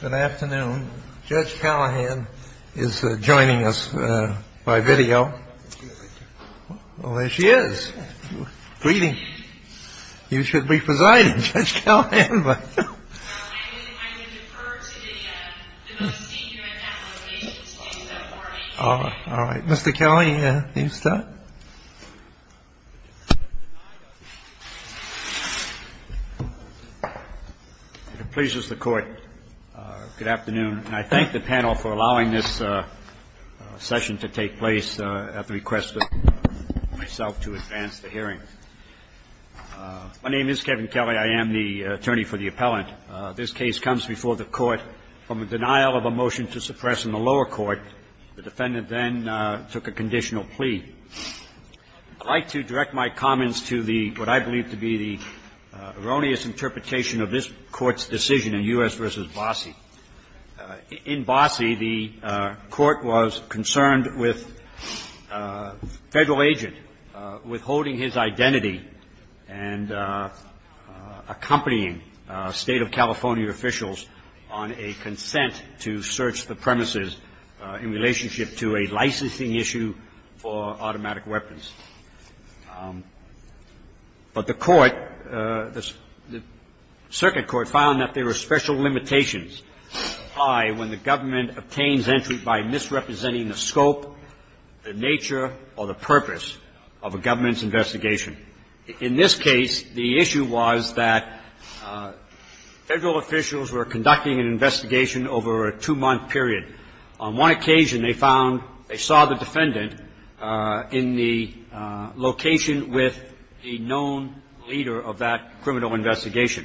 Good afternoon. Judge Callahan is joining us by video. Well, there she is. Greetings. You should be presiding, Judge Callahan. All right. Mr. Kelly, please start. Pleases the court. Good afternoon. I thank the panel for allowing this session to take place at the request of myself to advance the hearing. My name is Kevin Kelly. I am the attorney for the appellant. This case comes before the Court from a denial of a motion to suppress in the lower court. The defendant then took a conditional plea. I'd like to direct my comments to the what I believe to be the erroneous interpretation of this Court's decision in U.S. v. Bossie. In Bossie, the Court was concerned with Federal agent withholding his identity and accompanying State of California officials on a consent to search the premises in relationship to a licensing issue for automatic weapons. But the Court, the circuit court found that there were special limitations when the government obtains entry by misrepresenting the scope, the nature, or the purpose of a government's investigation. In this case, the issue was that Federal officials were conducting an investigation over a two-month period. On one occasion, they found they saw the defendant in the location with a known leader of that criminal investigation.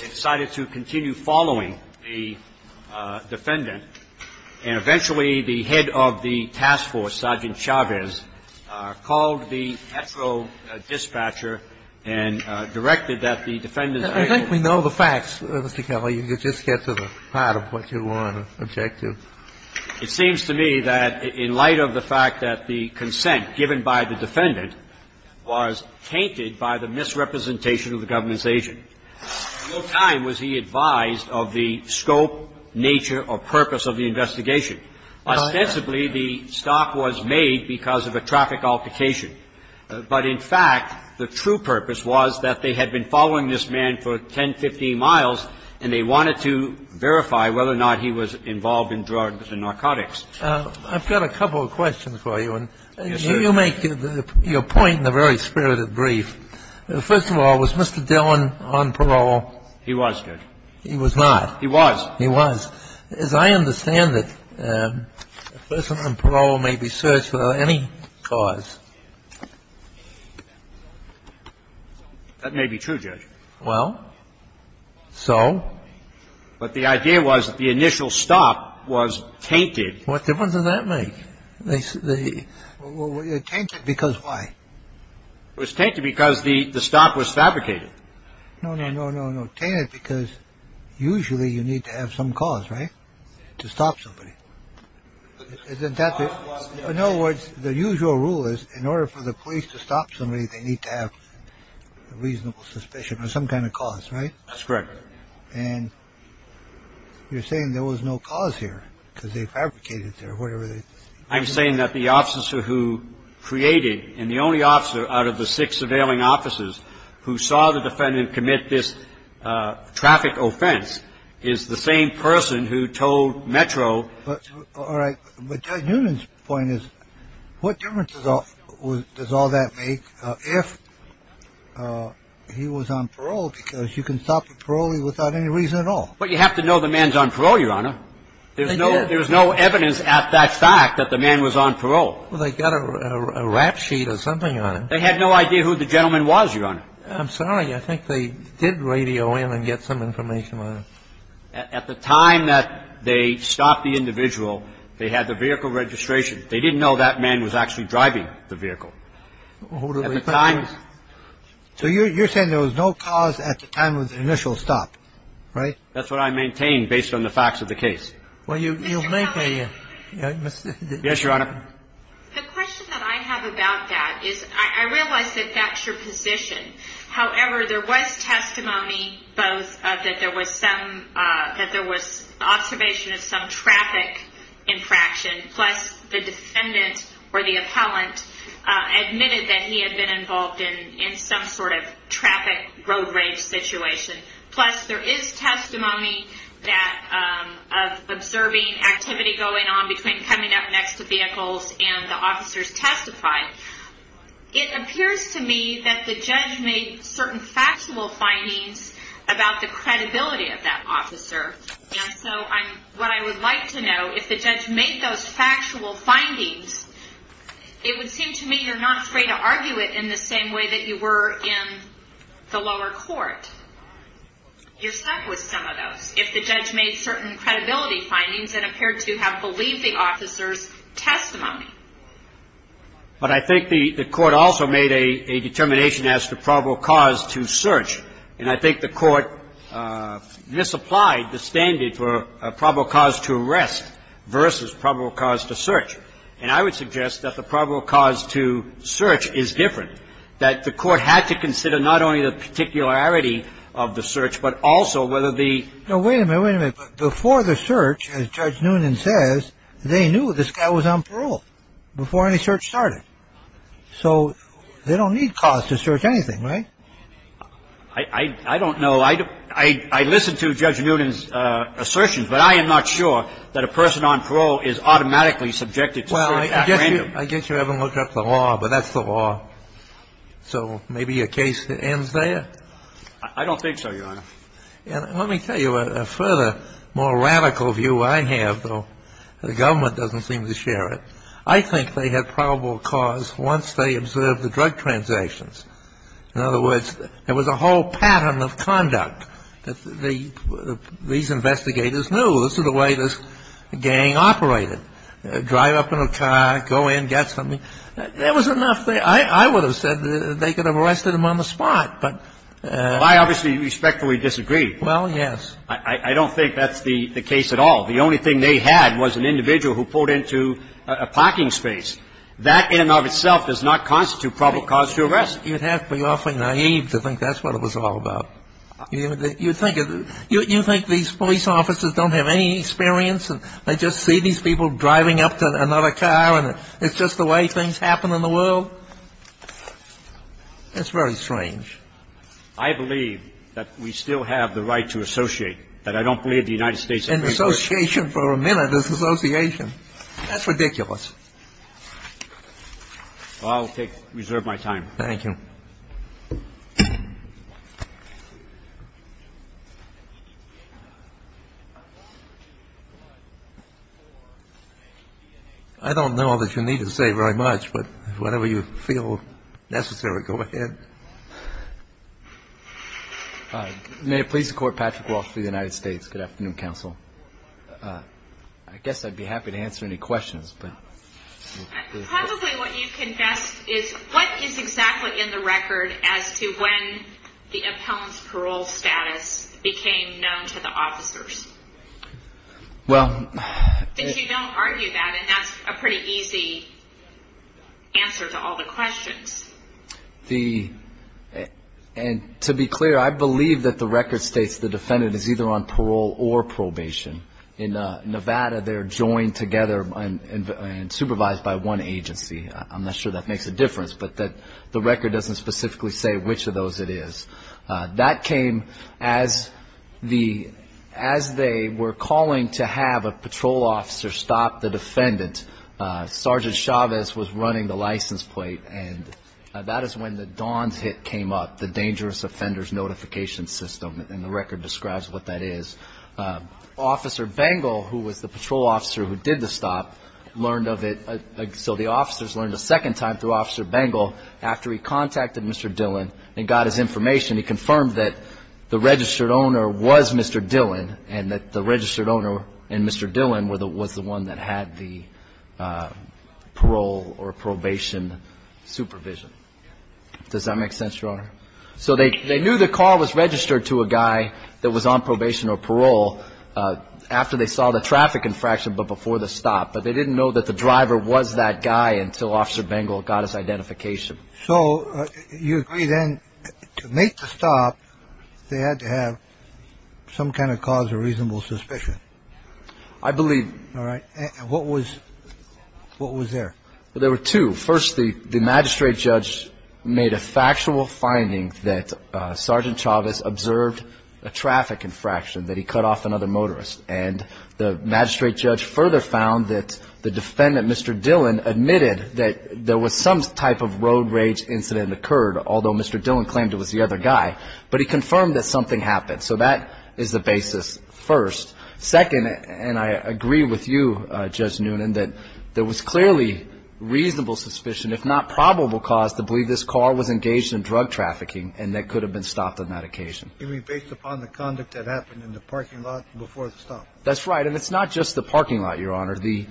They decided to continue following the defendant. And eventually, the head of the task force, Sergeant Chavez, called the Petro Dispatcher and directed that the defendant's agent be held. And I think that's the part of what you want to object to. It seems to me that in light of the fact that the consent given by the defendant was tainted by the misrepresentation of the government's agent, at no time was he advised of the scope, nature, or purpose of the investigation. Ostensibly, the stop was made because of a traffic altercation. But in fact, the true purpose was that they had been following this man for 10, 15 miles, and they wanted to verify whether or not he was involved in drugs and narcotics. I've got a couple of questions for you. And you make your point in a very spirited brief. First of all, was Mr. Dillon on parole? He was, Judge. He was not. He was. He was. Well, as I understand it, a person on parole may be searched without any cause. That may be true, Judge. Well, so? But the idea was that the initial stop was tainted. What difference does that make? Tainted because why? It was tainted because the stop was fabricated. No, no, no, no, no. Tainted because usually you need to have some cause, right? To stop somebody. In other words, the usual rule is in order for the police to stop somebody, they need to have a reasonable suspicion or some kind of cause, right? That's correct. And you're saying there was no cause here because they fabricated it or whatever. I'm saying that the officer who created and the only officer out of the six surveilling officers who saw the defendant commit this traffic offense is the same person who told Metro. All right. But Judge Newman's point is what difference does all that make if he was on parole because you can stop a parolee without any reason at all. Well, you have to know the man's on parole, Your Honor. There's no evidence at that fact that the man was on parole. Well, they got a rap sheet or something, Your Honor. They had no idea who the gentleman was, Your Honor. I'm sorry. I think they did radio in and get some information, Your Honor. At the time that they stopped the individual, they had the vehicle registration. They didn't know that man was actually driving the vehicle. At the time. So you're saying there was no cause at the time of the initial stop, right? That's what I maintain based on the facts of the case. Well, you make a mistake. Yes, Your Honor. The question that I have about that is I realize that that's your position. However, there was testimony both that there was observation of some traffic infraction plus the defendant or the appellant admitted that he had been involved in some sort of traffic road rage situation. Plus, there is testimony of observing activity going on between coming up next to vehicles and the officers testify. It appears to me that the judge made certain factual findings about the credibility of that officer. And so what I would like to know, if the judge made those factual findings, it would seem to me you're not afraid to argue it in the same way that you were in the lower court. You're stuck with some of those. If the judge made certain credibility findings and appeared to have believed the officer's testimony. But I think the court also made a determination as to probable cause to search. And I think the court misapplied the standard for probable cause to arrest versus probable cause to search. And I would suggest that the probable cause to search is different, that the court had to consider not only the particularity of the search, but also whether the. Now, wait a minute, wait a minute. Before the search, as Judge Noonan says, they knew this guy was on parole before any search started. So they don't need cause to search anything, right? I don't know. I listen to Judge Noonan's assertions, but I am not sure that a person on parole is automatically subjected to search at random. I guess you haven't looked up the law, but that's the law. So maybe your case ends there? I don't think so, Your Honor. Let me tell you a further, more radical view I have, though the government doesn't seem to share it. I think they had probable cause once they observed the drug transactions. In other words, there was a whole pattern of conduct that these investigators knew. This is the way this gang operated, drive up in a car, go in, get something. There was enough there. I would have said they could have arrested him on the spot, but. Well, I obviously respectfully disagree. Well, yes. I don't think that's the case at all. The only thing they had was an individual who pulled into a parking space. That in and of itself does not constitute probable cause to arrest. You'd have to be awfully naive to think that's what it was all about. You think these police officers don't have any experience and they just see these people driving up to another car and it's just the way things happen in the world? That's very strange. I believe that we still have the right to associate. That I don't believe the United States. And association for a minute is association. That's ridiculous. I'll take, reserve my time. Thank you. I don't know that you need to say very much, but whenever you feel necessary, go ahead. May it please the Court. Patrick Walsh for the United States. Good afternoon, counsel. I guess I'd be happy to answer any questions. Probably what you've confessed is what is exactly in the record as to when the appellant's parole status became known to the officers? Well. Because you don't argue that and that's a pretty easy answer to all the questions. The, and to be clear, I believe that the record states the defendant is either on parole or probation. In Nevada, they're joined together and supervised by one agency. I'm not sure that makes a difference, but the record doesn't specifically say which of those it is. That came as the, as they were calling to have a patrol officer stop the defendant. Sergeant Chavez was running the license plate. And that is when the DAWNS hit came up, the Dangerous Offenders Notification System, and the record describes what that is. Officer Bengel, who was the patrol officer who did the stop, learned of it. So the officers learned a second time through Officer Bengel after he contacted Mr. Dillon and got his information. He confirmed that the registered owner was Mr. Dillon and that the registered owner and Mr. Dillon were the, was the one that had the parole or probation supervision. Does that make sense, Your Honor? So they knew the call was registered to a guy that was on probation or parole after they saw the traffic infraction, but before the stop. But they didn't know that the driver was that guy until Officer Bengel got his identification. So you agree then to make the stop, they had to have some kind of cause of reasonable suspicion. I believe. All right. What was, what was there? Well, there were two. First, the magistrate judge made a factual finding that Sergeant Chavez observed a traffic infraction, that he cut off another motorist. And the magistrate judge further found that the defendant, Mr. Dillon, admitted that there was some type of road rage incident occurred, although Mr. Dillon claimed it was the other guy. But he confirmed that something happened. So that is the basis first. Second, and I agree with you, Judge Noonan, that there was clearly reasonable suspicion, if not probable cause, to believe this car was engaged in drug trafficking and that it could have been stopped on that occasion. You mean based upon the conduct that happened in the parking lot before the stop? That's right. And it's not just the parking lot, Your Honor. The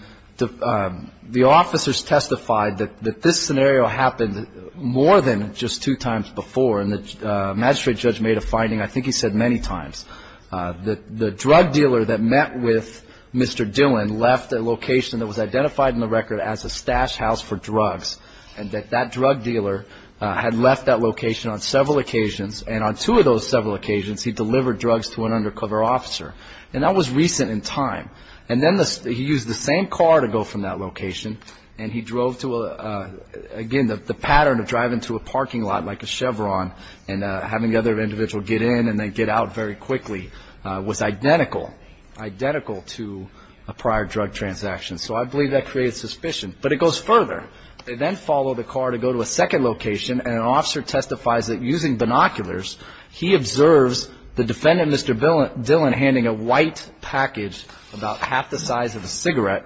officers testified that this scenario happened more than just two times before. And the magistrate judge made a finding, I think he said many times, that the drug dealer that met with Mr. Dillon left a location that was identified in the record as a stash house for drugs, and that that drug dealer had left that location on several occasions. And on two of those several occasions, he delivered drugs to an undercover officer. And that was recent in time. And then he used the same car to go from that location, and he drove to a, again, the pattern of driving to a parking lot like a Chevron and having the other individual get in and then get out very quickly was identical, identical to a prior drug transaction. So I believe that created suspicion. But it goes further. They then follow the car to go to a second location, and an officer testifies that using binoculars, he observes the defendant, Mr. Dillon, handing a white package, about half the size of a cigarette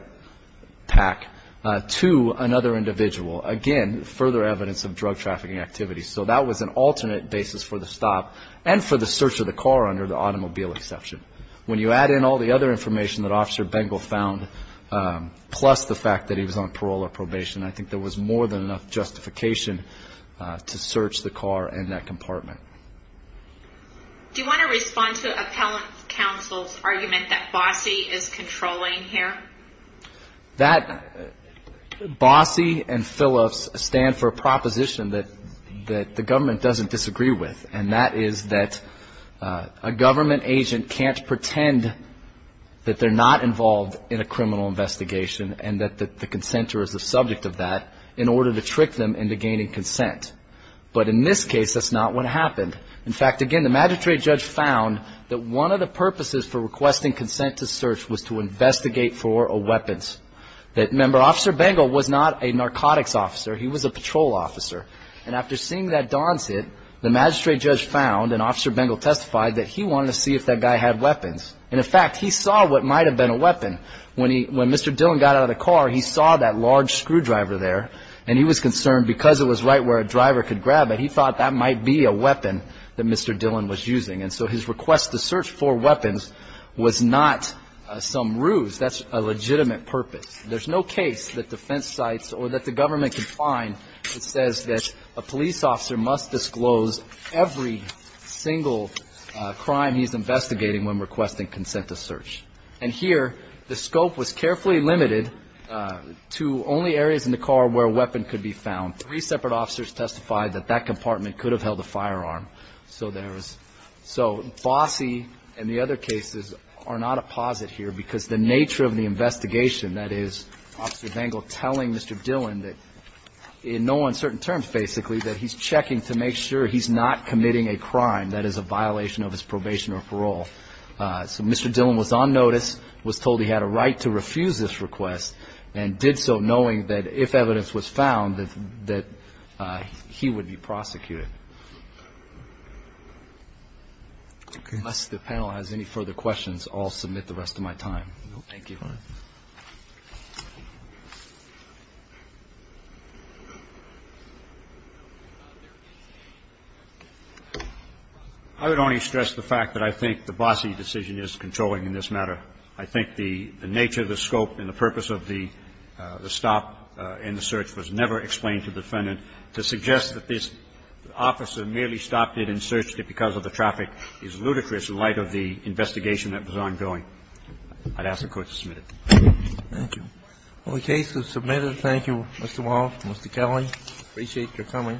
pack, to another individual. Again, further evidence of drug trafficking activity. So that was an alternate basis for the stop and for the search of the car under the automobile exception. When you add in all the other information that Officer Bengel found, plus the fact that he was on parole or probation, I think there was more than enough justification to search the car and that compartment. Do you want to respond to Appellant Counsel's argument that Bossie is controlling here? That Bossie and Phillips stand for a proposition that the government doesn't disagree with, and that is that a government agent can't pretend that they're not involved in a criminal investigation and that the consentor is the subject of that in order to trick them into gaining consent. But in this case, that's not what happened. In fact, again, the magistrate judge found that one of the purposes for requesting consent to search was to investigate for weapons. Remember, Officer Bengel was not a narcotics officer. He was a patrol officer. And after seeing that Don's hit, the magistrate judge found, and Officer Bengel testified, that he wanted to see if that guy had weapons. And, in fact, he saw what might have been a weapon. When Mr. Dillon got out of the car, he saw that large screwdriver there, and he was concerned because it was right where a driver could grab it, and he thought that might be a weapon that Mr. Dillon was using. And so his request to search for weapons was not some ruse. That's a legitimate purpose. There's no case that defense cites or that the government can find that says that a police officer must disclose every single crime he's investigating when requesting consent to search. And here, the scope was carefully limited to only areas in the car where a weapon could be found. Three separate officers testified that that compartment could have held a firearm. So there is so bossy, and the other cases are not a posit here because the nature of the investigation, that is Officer Bengel telling Mr. Dillon that in no uncertain terms, basically, that he's checking to make sure he's not committing a crime that is a violation of his probation or parole. So Mr. Dillon was on notice, was told he had a right to refuse this request, and did so knowing that if evidence was found, that he would be prosecuted. Unless the panel has any further questions, I'll submit the rest of my time. Thank you. I would only stress the fact that I think the bossy decision is controlling in this matter. I think the nature, the scope, and the purpose of the stop and the search was never explained to the defendant. To suggest that this officer merely stopped it and searched it because of the traffic is ludicrous in light of the investigation that was ongoing. I'd ask the Court to submit it. Thank you. Okay, so submitted. Thank you, Mr. Wall, Mr. Kelly. I appreciate your coming. Thank you.